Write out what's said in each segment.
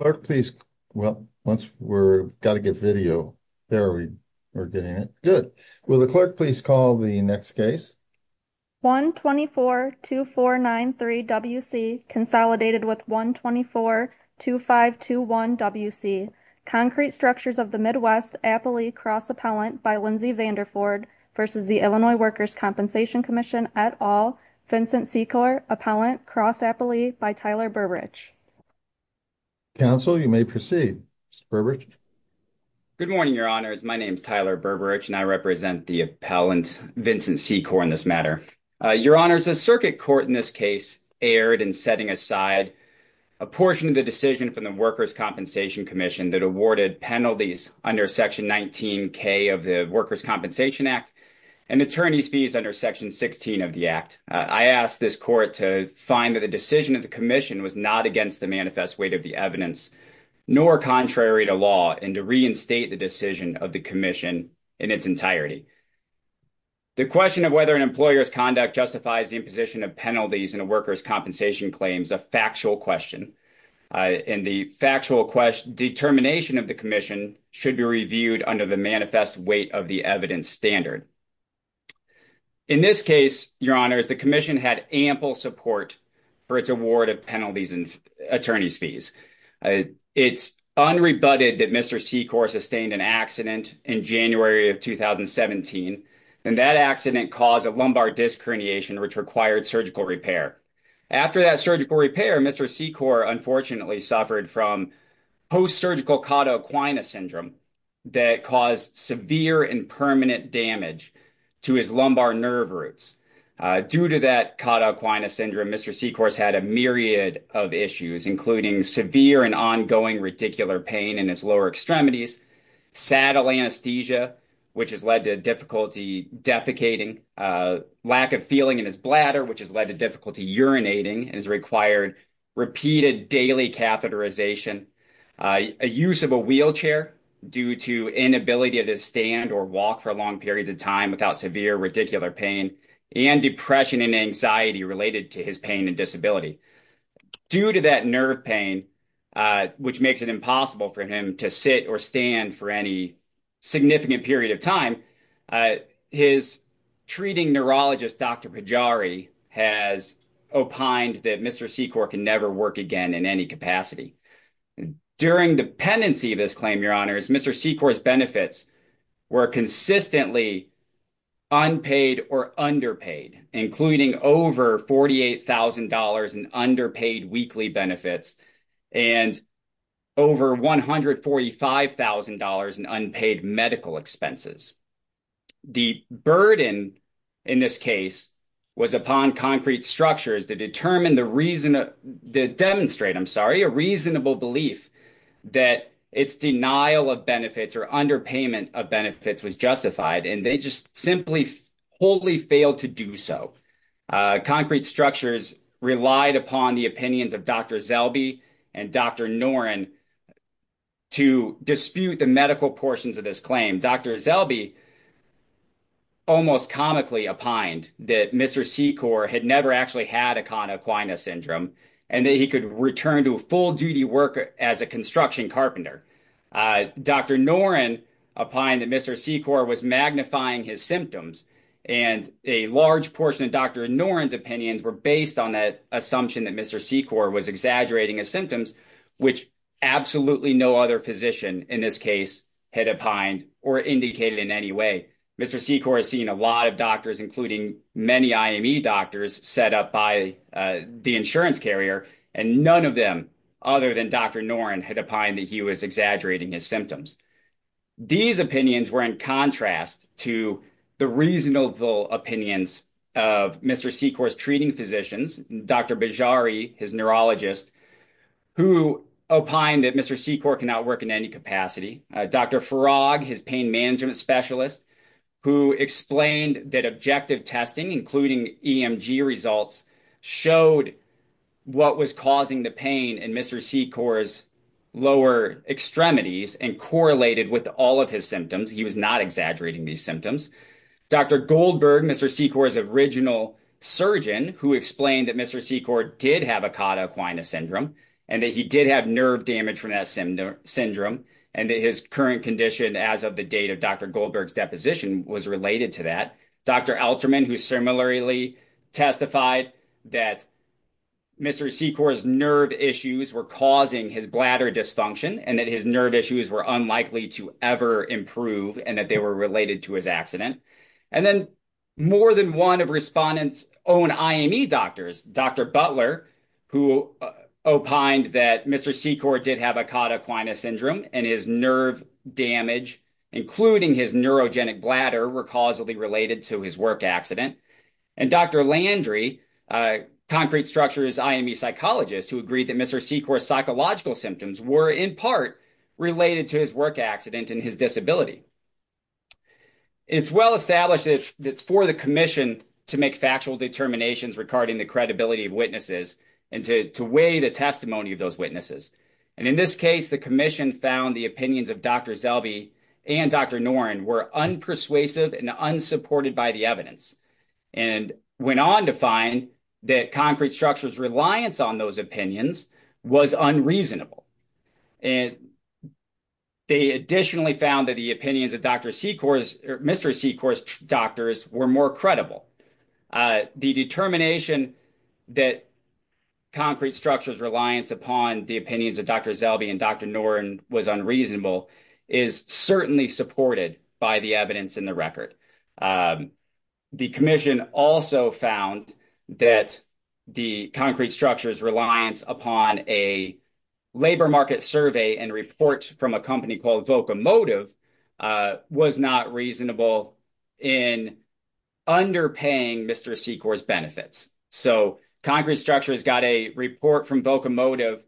Clerk, please. Well, once we're got to get video, there we are getting it. Good. Will the clerk please call the next case? 1-24-2493-WC, consolidated with 1-24-2521-WC, Concrete Structures of the Midwest, Appalee, cross-appellant by Lindsay Vanderford versus the Illinois Workers' Compensation Commission et al., Vincent Secor, appellant, cross-appellee, by Tyler Berberich. Counsel, you may proceed. Mr. Berberich? Good morning, your honors. My name is Tyler Berberich and I represent the appellant, Vincent Secor, in this matter. Your honors, the circuit court in this case erred in setting aside a portion of the decision from the Workers' Compensation Commission that awarded penalties under Section 19K of the Workers' Compensation Act and attorney's fees under Section 16 of the Act. I asked this court to find that the decision of the commission was not against the manifest weight of the evidence, nor contrary to law, and to reinstate the decision of the commission in its entirety. The question of whether an employer's conduct justifies the imposition of penalties in a workers' compensation claim is a factual question, and the factual determination of the commission should be reviewed under the manifest weight of the evidence standard. In this case, your honors, the commission had ample support for its award of penalties and attorney's fees. It's unrebutted that Mr. Secor sustained an accident in January of 2017, and that accident caused a lumbar disc herniation which required surgical repair. After that surgical repair, Mr. Secor unfortunately suffered from post-surgical cauda equina syndrome that caused severe and permanent damage to his lumbar nerve roots. Due to that cauda equina syndrome, Mr. Secor has had a myriad of issues, including severe and ongoing reticular pain in his lower extremities, saddle anesthesia, which has led to difficulty defecating, lack of feeling in his bladder, which has led to difficulty urinating, and has required repeated daily catheterization. A use of a wheelchair due to inability to stand or walk for long periods of time without severe reticular pain, and depression and anxiety related to his pain and disability. Due to that nerve pain, which makes it impossible for him to sit or stand for significant period of time, his treating neurologist, Dr. Pajari, has opined that Mr. Secor can never work again in any capacity. During the pendency of this claim, your honors, Mr. Secor's benefits were consistently unpaid or underpaid, including over $48,000 in underpaid weekly benefits and over $145,000 in unpaid medical expenses. The burden in this case was upon concrete structures to demonstrate a reasonable belief that its denial of benefits or underpayment of benefits was justified, and they just simply wholly failed to do so. Concrete structures relied upon the opinions of Dr. Zellbe and Dr. Noren to dispute the medical portions of this claim. Dr. Zellbe almost comically opined that Mr. Secor had never actually had Acona-Aquina Syndrome, and that he could return to a full duty work as a construction carpenter. Dr. Noren opined that Mr. Secor was magnifying his symptoms, and a large portion of Dr. Noren's opinions were based on that assumption that Mr. Secor was exaggerating his symptoms, which absolutely no other physician in this case had opined or indicated in any way. Mr. Secor has seen a lot of doctors, including many IME doctors, set up by the insurance carrier, and none of them other than Dr. Noren had opined that he was exaggerating his symptoms. These opinions were in contrast to the reasonable opinions of Mr. Secor's treating physicians, Dr. Bejari, his neurologist, who opined that Mr. Secor cannot work in any capacity. Dr. Farag, his pain management specialist, who explained that objective testing, including EMG results, showed what was causing the pain in Mr. Secor's lower extremities and correlated with all of his symptoms. He was not exaggerating these symptoms. Dr. Goldberg, Mr. Secor's original surgeon, who explained that Mr. Secor did have Akata Aquina Syndrome, and that he did have nerve damage from that syndrome, and that his current condition as of the date of Dr. Goldberg's deposition was related to that. Dr. Alterman, who similarly testified that Mr. Secor's bladder dysfunction and that his nerve issues were unlikely to ever improve and that they were related to his accident. And then more than one of respondents' own IME doctors, Dr. Butler, who opined that Mr. Secor did have Akata Aquina Syndrome, and his nerve damage, including his neurogenic bladder, were causally related to his work accident. And Dr. Landry, concrete structure's IME psychologist, who agreed that Mr. Secor's psychological symptoms were in part related to his work accident and his disability. It's well established that it's for the commission to make factual determinations regarding the credibility of witnesses and to weigh the testimony of those witnesses. And in this case, the commission found the opinions of Dr. And went on to find that concrete structure's reliance on those opinions was unreasonable. And they additionally found that the opinions of Dr. Secor's, or Mr. Secor's doctors, were more credible. The determination that concrete structure's reliance upon the opinions of Dr. Zelby and Dr. Noren was unreasonable is certainly supported by the evidence in the record. The commission also found that the concrete structure's reliance upon a labor market survey and report from a company called Vocomotive was not reasonable in underpaying Mr. Secor's benefits. So concrete structure's got a report from Vocomotive,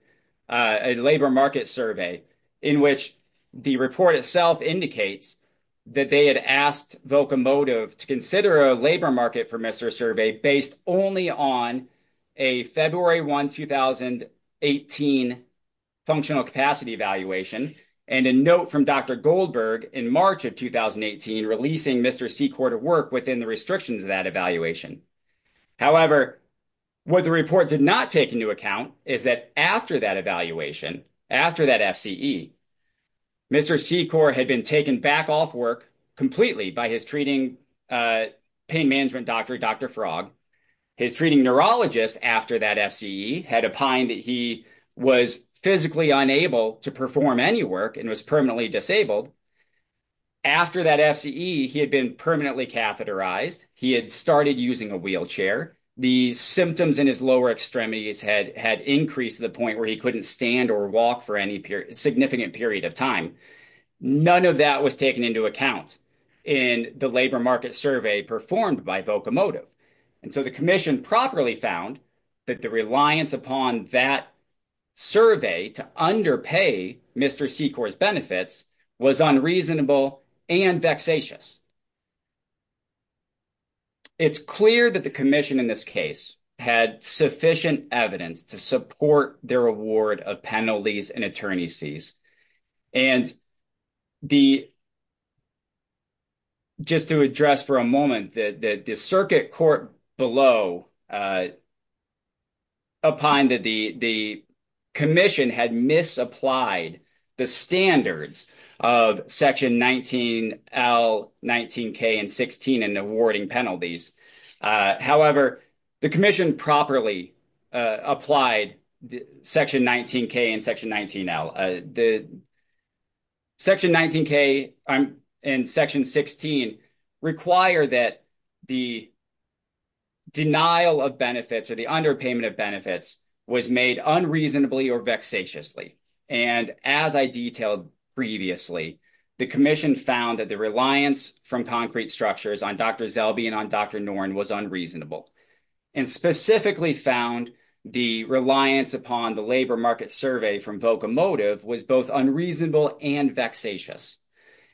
a labor market survey, in which the report itself indicates that they had asked Vocomotive to consider a labor market for Mr. Survey based only on a February 1, 2018 functional capacity evaluation and a note from Dr. Goldberg in March of 2018 releasing Mr. Secor to work within the restrictions of that evaluation. However, what the report did not take into account is that after that evaluation, after that FCE, Mr. Secor had been taken back off work completely by his treating pain management doctor, Dr. Frog. His treating neurologist after that FCE had opined that he was physically unable to perform any work and was permanently disabled. After that FCE, he had been permanently catheterized. He had started using a wheelchair. The symptoms in his lower extremities had increased to the point where he couldn't stand or walk for any significant period of time. None of that was taken into account in the labor market survey performed by Vocomotive. And so the commission properly found that the reliance upon that survey to underpay Mr. Secor's benefits was unreasonable and vexatious. It's clear that the commission in this case had sufficient evidence to support their award of penalties and attorney's fees. And the, just to address for a moment, the circuit court below opined that the commission had misapplied the standards of section 19L, 19K, and 16 in awarding penalties. However, the commission properly applied section 19K and section 19L. Section 19K and section 16 require that the denial of benefits or the underpayment of benefits was made unreasonably or vexatiously. And as I detailed previously, the commission found that the reliance from concrete structures on Dr. Zelby and on Dr. Noren was unreasonable and specifically found the reliance upon the labor market survey from Vocomotive was both unreasonable and vexatious.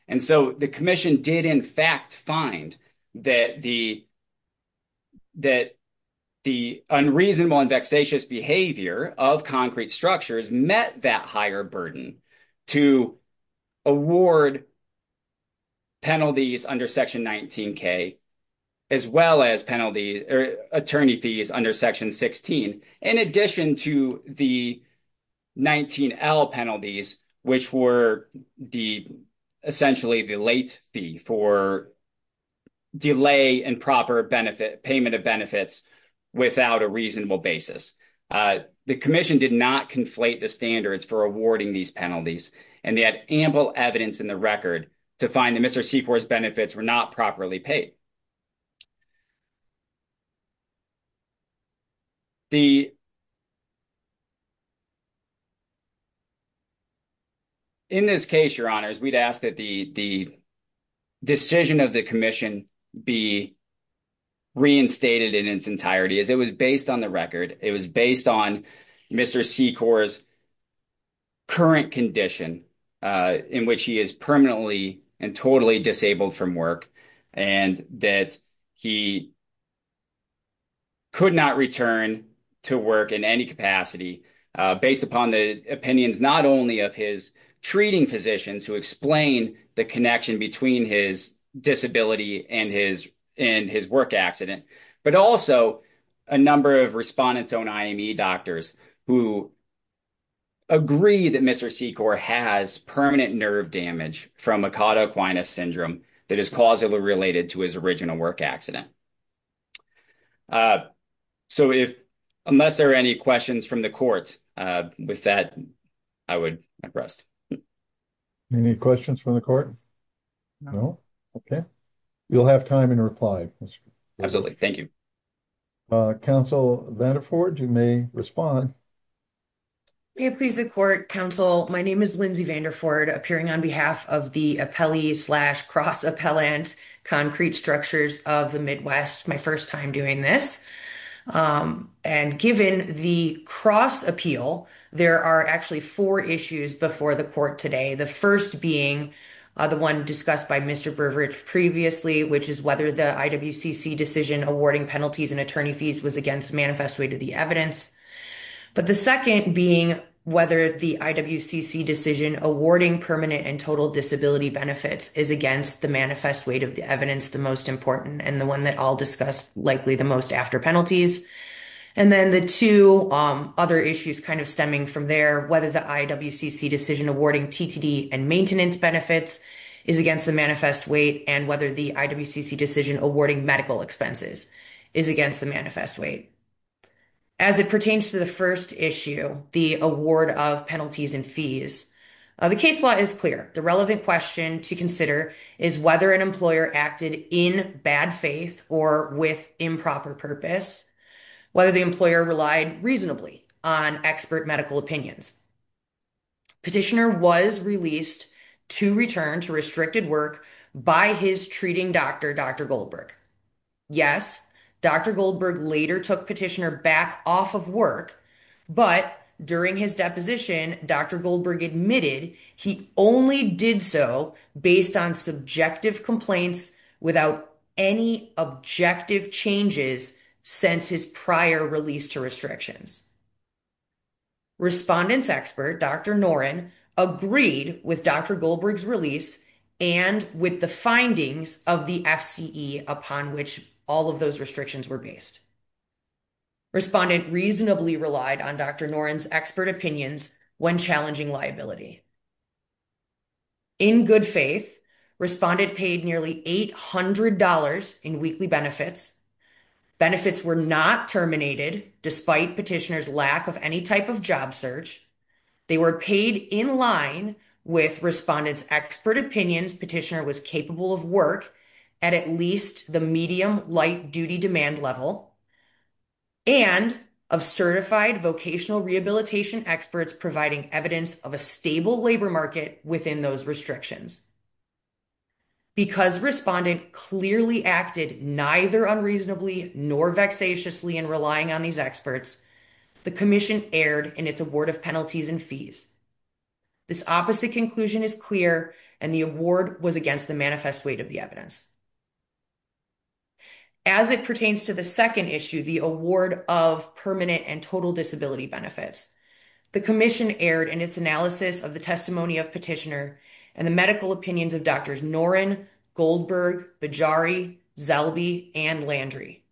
And so the commission did in fact find that the unreasonable and vexatious behavior of concrete structures met that higher burden to award penalties under section 19K as well as attorney fees under section 16, in addition to the 19L penalties, which were essentially the late fee for delay and proper payment of benefits without a reasonable basis. The commission did not conflate the standards for awarding these penalties and they had ample evidence in the record. In this case, your honors, we'd ask that the decision of the commission be reinstated in its entirety as it was based on the record. It was based on Mr. Secor's current condition in which he is permanently and totally disabled from work and that he could not return to work in any capacity based upon the opinions, not only of his treating physicians who explain the connection between his disability and his work accident, but also a number of respondents on IME doctors who agree that Mr. Secor has permanent nerve damage from Akata Aquinas syndrome that is causally related to his original work accident. So, unless there are any questions from the court with that, I would rest. Any questions from the court? No? Okay. You'll have time in reply. Absolutely. Thank you. Counsel Vanderford, you may respond. May it please the court, counsel, my name is Lindsay Vanderford appearing on behalf of the appellee slash cross appellant concrete structures of the Midwest, my first time doing this. And given the cross appeal, there are actually four issues before the court today. The first being the one discussed by Mr. Brewerage previously, which is whether the IWCC decision awarding penalties and attorney fees was against manifest weight of the evidence. But the second being whether the IWCC decision awarding permanent and total disability benefits is against the manifest weight of the evidence, the most important and the one that I'll discuss likely the most after penalties. And then the two other issues stemming from there, whether the IWCC decision awarding TTD and maintenance benefits is against the manifest weight and whether the IWCC decision awarding medical expenses is against the manifest weight. As it pertains to the first issue, the award of penalties and fees, the case law is clear. The relevant question to consider is whether an employer acted in bad faith or with improper purpose, whether the employer relied reasonably on expert medical opinions. Petitioner was released to return to restricted work by his treating doctor, Dr. Goldberg. Yes, Dr. Goldberg later took petitioner back off of work, but during his deposition, Dr. Goldberg admitted he only did so based on subjective complaints without any objective changes since his prior release to restrictions. Respondent's expert, Dr. Noren agreed with Dr. Goldberg's release and with the findings of the FCE upon which all of those restrictions were placed. Respondent reasonably relied on Dr. Noren's expert opinions when challenging liability. In good faith, respondent paid nearly $800 in weekly benefits. Benefits were not terminated despite petitioner's lack of any type of job search. They were paid in line with respondent's expert opinions petitioner was capable of work at at least the medium light duty demand level and of certified vocational rehabilitation experts providing evidence of a stable labor market within those restrictions. Because respondent clearly acted neither unreasonably nor vexatiously in relying on these experts, the commission erred in its award of penalties and fees. This opposite conclusion is clear and the award was against the manifest weight of the evidence. As it pertains to the second issue, the award of permanent and total disability benefits, the commission erred in its analysis of the testimony of petitioner and the medical opinions of Drs. Noren, Goldberg, Bejari, Zelbe, and Landry.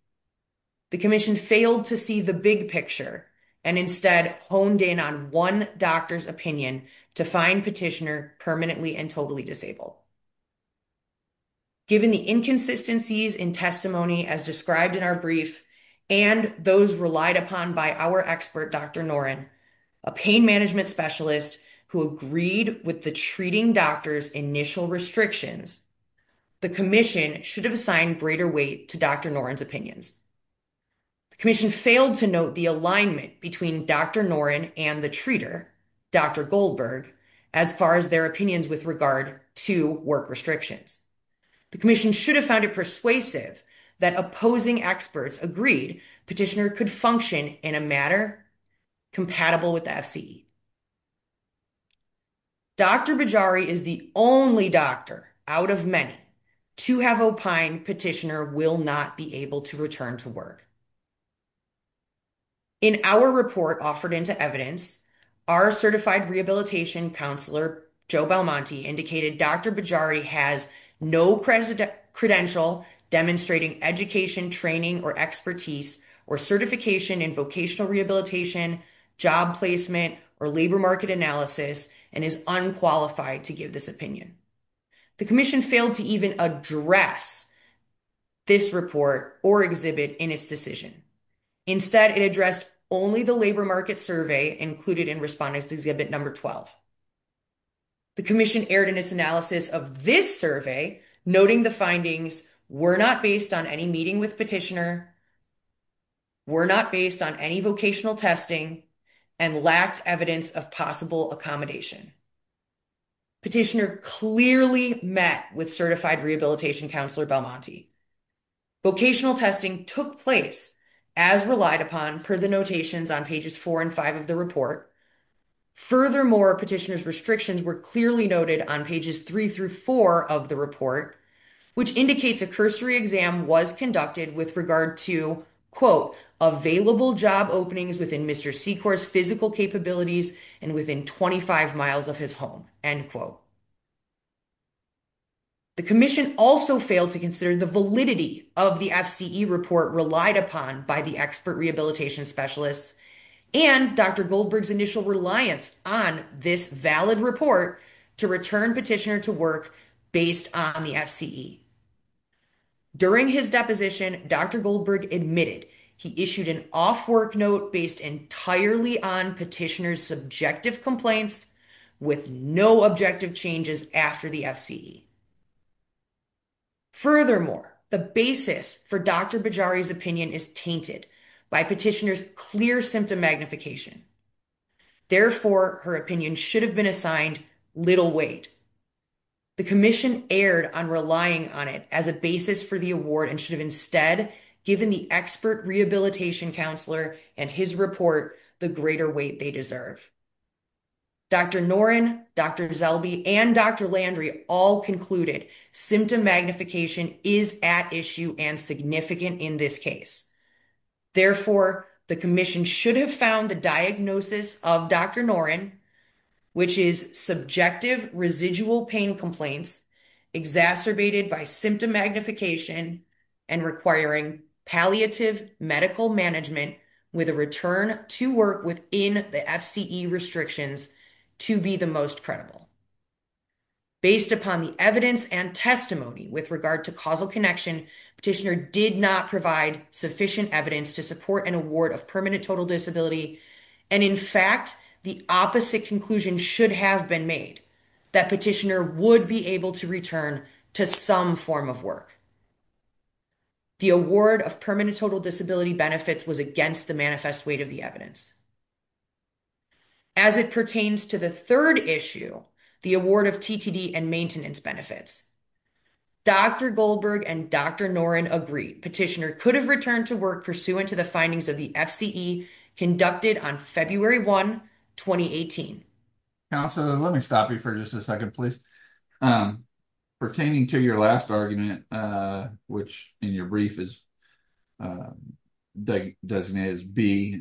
The commission failed to see the big to find petitioner permanently and totally disabled. Given the inconsistencies in testimony as described in our brief and those relied upon by our expert Dr. Noren, a pain management specialist who agreed with the treating doctor's initial restrictions, the commission should have assigned greater weight to Dr. Noren's opinions. The commission failed to note the alignment between Dr. Noren and the treater, Dr. Goldberg, as far as their opinions with regard to work restrictions. The commission should have found it persuasive that opposing experts agreed petitioner could function in a matter compatible with the FCE. Dr. Bejari is the only doctor out of many to have opined petitioner not be able to return to work. In our report offered into evidence, our certified rehabilitation counselor, Joe Belmonte, indicated Dr. Bejari has no credential demonstrating education, training, or expertise or certification in vocational rehabilitation, job placement, or labor market analysis and is unqualified to give this opinion. The commission failed to even address this report or exhibit in its decision. Instead, it addressed only the labor market survey included in Respondent Exhibit No. 12. The commission erred in its analysis of this survey, noting the findings were not based on any meeting with petitioner, were not based on any vocational testing, and lacked evidence of accommodation. Petitioner clearly met with certified rehabilitation counselor Belmonte. Vocational testing took place as relied upon per the notations on pages four and five of the report. Furthermore, petitioner's restrictions were clearly noted on pages three through four of the report, which indicates a cursory exam was conducted with regard to, quote, available job openings within Mr. Secor's physical capabilities and within 25 miles of his home, end quote. The commission also failed to consider the validity of the FCE report relied upon by the expert rehabilitation specialists and Dr. Goldberg's initial reliance on this valid report to return petitioner to work based on the FCE. During his deposition, Dr. Goldberg admitted he issued an off-work note based entirely on petitioner's subjective complaints with no objective changes after the FCE. Furthermore, the basis for Dr. Bajari's opinion is tainted by petitioner's clear symptom magnification. Therefore, her opinion should have been assigned little weight. The commission erred on relying on it as a basis for the award and instead given the expert rehabilitation counselor and his report the greater weight they deserve. Dr. Norrin, Dr. Zelbe, and Dr. Landry all concluded symptom magnification is at issue and significant in this case. Therefore, the commission should have found the diagnosis of Dr. Norrin, which is subjective residual pain complaints exacerbated by symptom magnification requiring palliative medical management with a return to work within the FCE restrictions to be the most credible. Based upon the evidence and testimony with regard to causal connection, petitioner did not provide sufficient evidence to support an award of permanent total disability and in fact the opposite conclusion should have been made that petitioner would be able to return to some form of work. The award of permanent total disability benefits was against the manifest weight of the evidence. As it pertains to the third issue, the award of TTD and maintenance benefits, Dr. Goldberg and Dr. Norrin agreed petitioner could have returned to work pursuant to the second issue. Pertaining to your last argument, which in your brief is designated as B,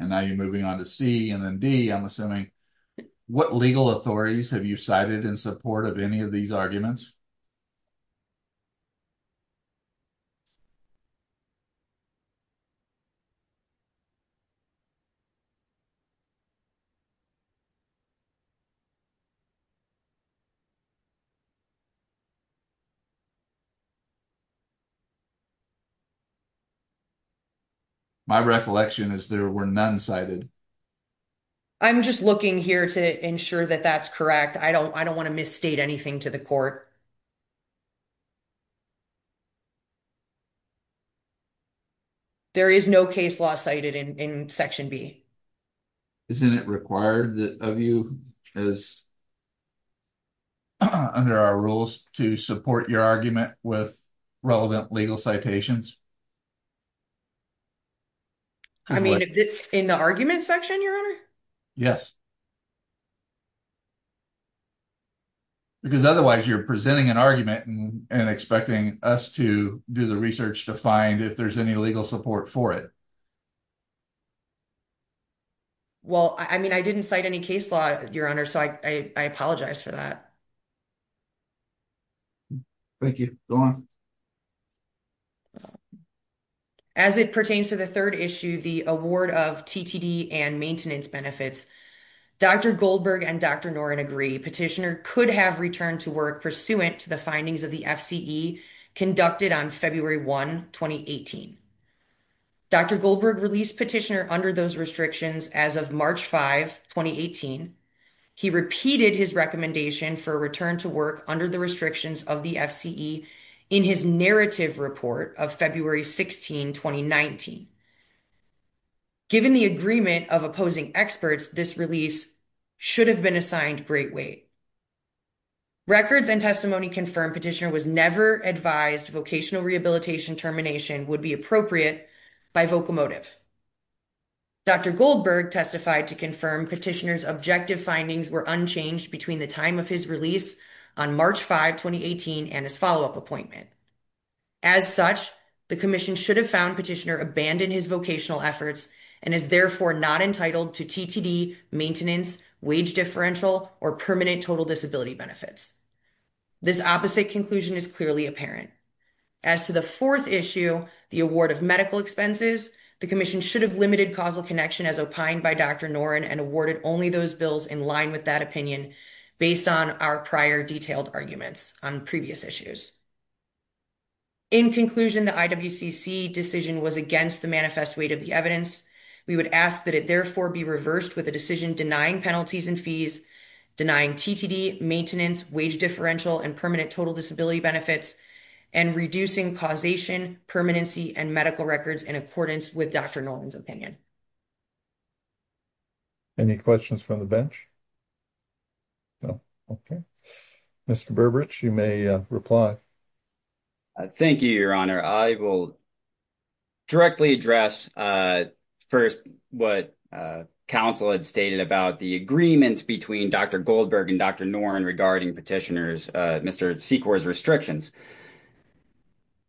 what legal authorities have you cited in support of any of these arguments? My recollection is there were none cited. I'm just looking here to ensure that that's correct. I don't want to misstate anything to the court. There is no case law cited in section B. Isn't it required of you as under our rules to support your argument with relevant legal citations? I mean in the argument section, your honor? Yes. Because otherwise you're presenting an argument and expecting us to do the research to find if there's any legal support for it. Well, I mean I didn't cite any case law, your honor, so I apologize for that. Thank you. As it pertains to the third issue, the award of TTD and maintenance benefits, Dr. Goldberg and Dr. Norrin agree petitioner could have returned to work pursuant to the findings of the FCE conducted on February 1, 2018. Dr. Goldberg released petitioner under those restrictions as of March 5, 2018. He repeated his recommendation for a return to work under the restrictions of the FCE in his narrative report of February 16, 2019. Given the agreement of opposing experts, this release should have been assigned great weight. Records and testimony confirm petitioner was never advised vocational rehabilitation termination would be appropriate by vocomotive. Dr. Goldberg testified to confirm petitioner's objective findings were unchanged between the time of his release on March 5, 2018 and his follow-up appointment. As such, the commission should have found petitioner abandoned his vocational efforts and is therefore not entitled to TTD, maintenance, wage differential, or permanent disability benefits. This opposite conclusion is clearly apparent. As to the fourth issue, the award of medical expenses, the commission should have limited causal connection as opined by Dr. Norrin and awarded only those bills in line with that opinion based on our prior detailed arguments on previous issues. In conclusion, the IWCC decision was against the manifest weight of the evidence. We would ask that it therefore be reversed with a decision denying penalties and fees, denying TTD, maintenance, wage differential, and permanent total disability benefits, and reducing causation, permanency, and medical records in accordance with Dr. Norrin's opinion. Any questions from the bench? Mr. Berberich, you may reply. Thank you, Your Honor. I will directly address first what counsel had stated about the agreement between Dr. Goldberg and Dr. Norrin regarding Mr. Secor's restrictions.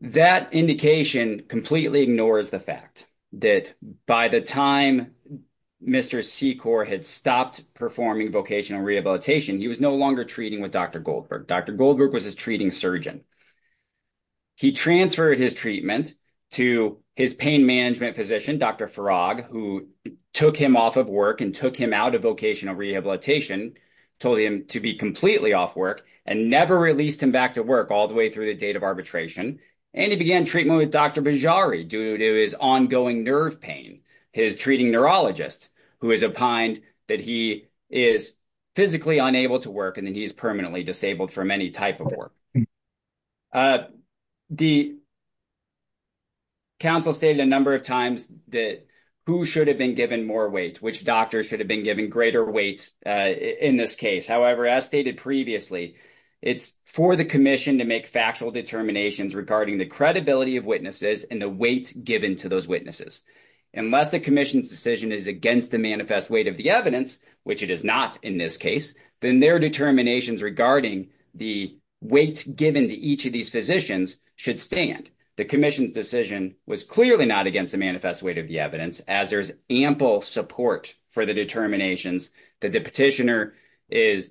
That indication completely ignores the fact that by the time Mr. Secor had stopped performing vocational rehabilitation, he was no longer treating with Dr. Goldberg. Dr. Goldberg was his treating surgeon. He transferred his treatment to his pain management physician, Dr. Farag, who took him off of work and took him out of vocational rehabilitation, told him to be completely off work, and never released him back to work all the way through the date of arbitration. And he began treatment with Dr. Bejari due to his ongoing nerve pain. His treating neurologist, who is opined that he is physically unable to work, and that he is permanently disabled from any type of work. The counsel stated a number of times that who should have been given more weight, which doctor should have been given greater weight in this case. However, as stated previously, it's for the commission to make factual determinations regarding the credibility of witnesses and the weight given to those witnesses. Unless the commission's decision is against the manifest weight of the evidence, which it is not in this case, then their determinations regarding the weight given to each of these physicians should stand. The commission's decision was clearly not against the manifest weight of the evidence, as there's ample support for the determinations that the petitioner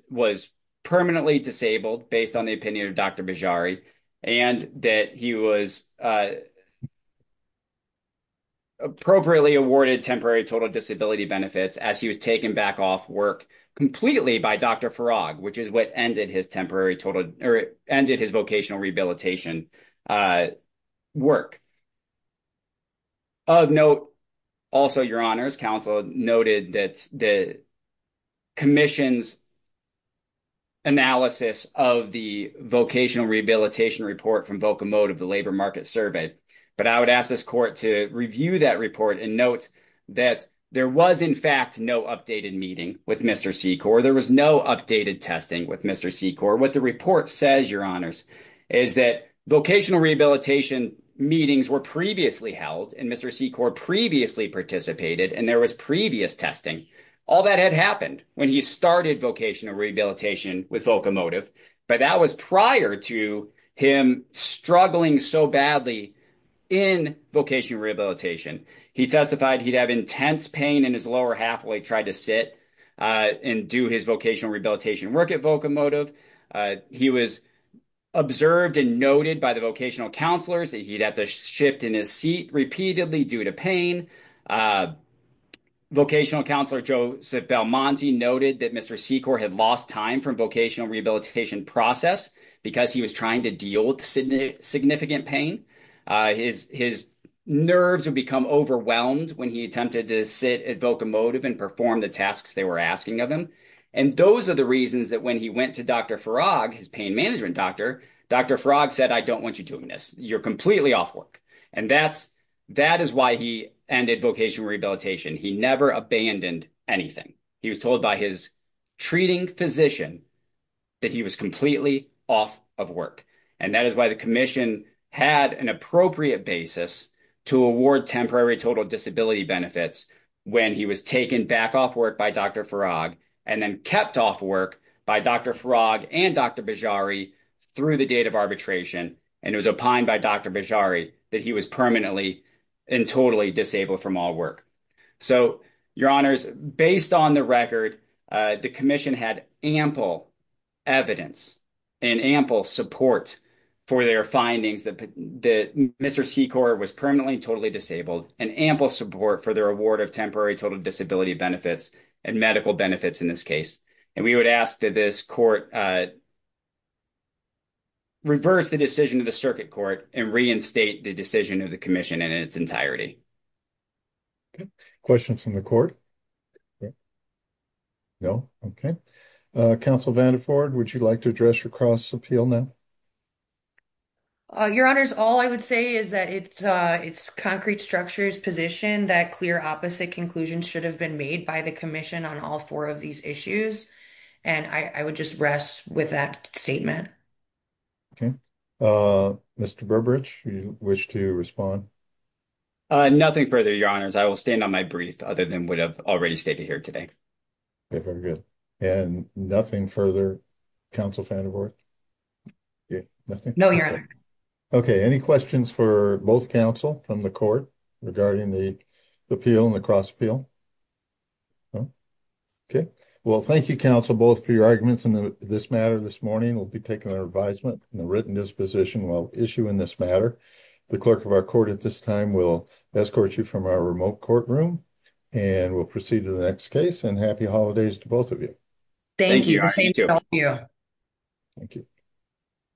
was permanently disabled based on the opinion of Dr. Bejari, and that he was appropriately awarded temporary total disability benefits as he was taken back off work completely by Dr. Farag, which is what ended his vocational rehabilitation work. Of note, also your honors, counsel noted that the commission's analysis of the vocational rehabilitation report from Vocomotive, the labor market survey, but I would ask this court to review that report and note that there was in fact no updated meeting with Mr. Secor. There was no updated testing with Mr. Secor. What the report says, your honors, is that vocational rehabilitation meetings were previously held and Mr. Secor previously participated and there was previous testing. All that had happened when he started vocational rehabilitation with Vocomotive, but that was prior to him struggling so badly in vocational rehabilitation. He testified he'd have intense pain in his lower half when he tried to sit and do his vocational rehabilitation work at Vocomotive. He was observed and noted by the vocational counselors that he'd have to shift in his seat repeatedly due to pain. Vocational counselor Joseph Belmonte noted that Mr. Secor had lost time from vocational rehabilitation process because he was trying to deal with significant pain. His nerves would become overwhelmed when he attempted to sit at Vocomotive and perform the tasks they were asking of him. Those are the reasons that when he went to Dr. Farag, his pain management doctor, Dr. Farag said, I don't want you doing this. You're completely off work. That is why he ended vocational rehabilitation. He never abandoned anything. He was told by his treating physician that he was completely off of work and that is why the commission had an appropriate basis to award temporary total disability benefits when he was taken back off work by Dr. Farag and then kept off work by Dr. Farag and Dr. Bejari through the date of arbitration and it was opined by Dr. Bejari that he was permanently and totally disabled from all work. So, your honors, based on the record, the commission had ample evidence and ample support for their findings that Mr. Secor was permanently and totally disabled and ample support for their award of temporary total disability benefits and medical benefits in this case and we would ask that this court reverse the decision of the circuit court and reinstate the decision of the commission in its entirety. Questions from the court? No? Okay. Counsel Vanderford, would you like to address your cross appeal now? Your honors, all I would say is that it's concrete structure's position that clear opposite conclusions should have been made by the commission on all four of these issues and I would just rest with that statement. Okay. Mr. Burbridge, would you wish to respond? Nothing further, your honors. I will stand on my brief other than what I've already stated here today. Okay, very good. And nothing further, Counsel Vanderford? Nothing? No, your honor. Okay. Any questions for both counsel from the court regarding the appeal and the cross appeal? No? Okay. Well, thank you, counsel, both for your arguments in this matter this morning. We'll be taking our advisement and the written disposition while issuing this matter. The clerk of our court at this time will escort you from our remote courtroom and we'll proceed to the next case and happy holidays to both of you. Thank you. Thank you.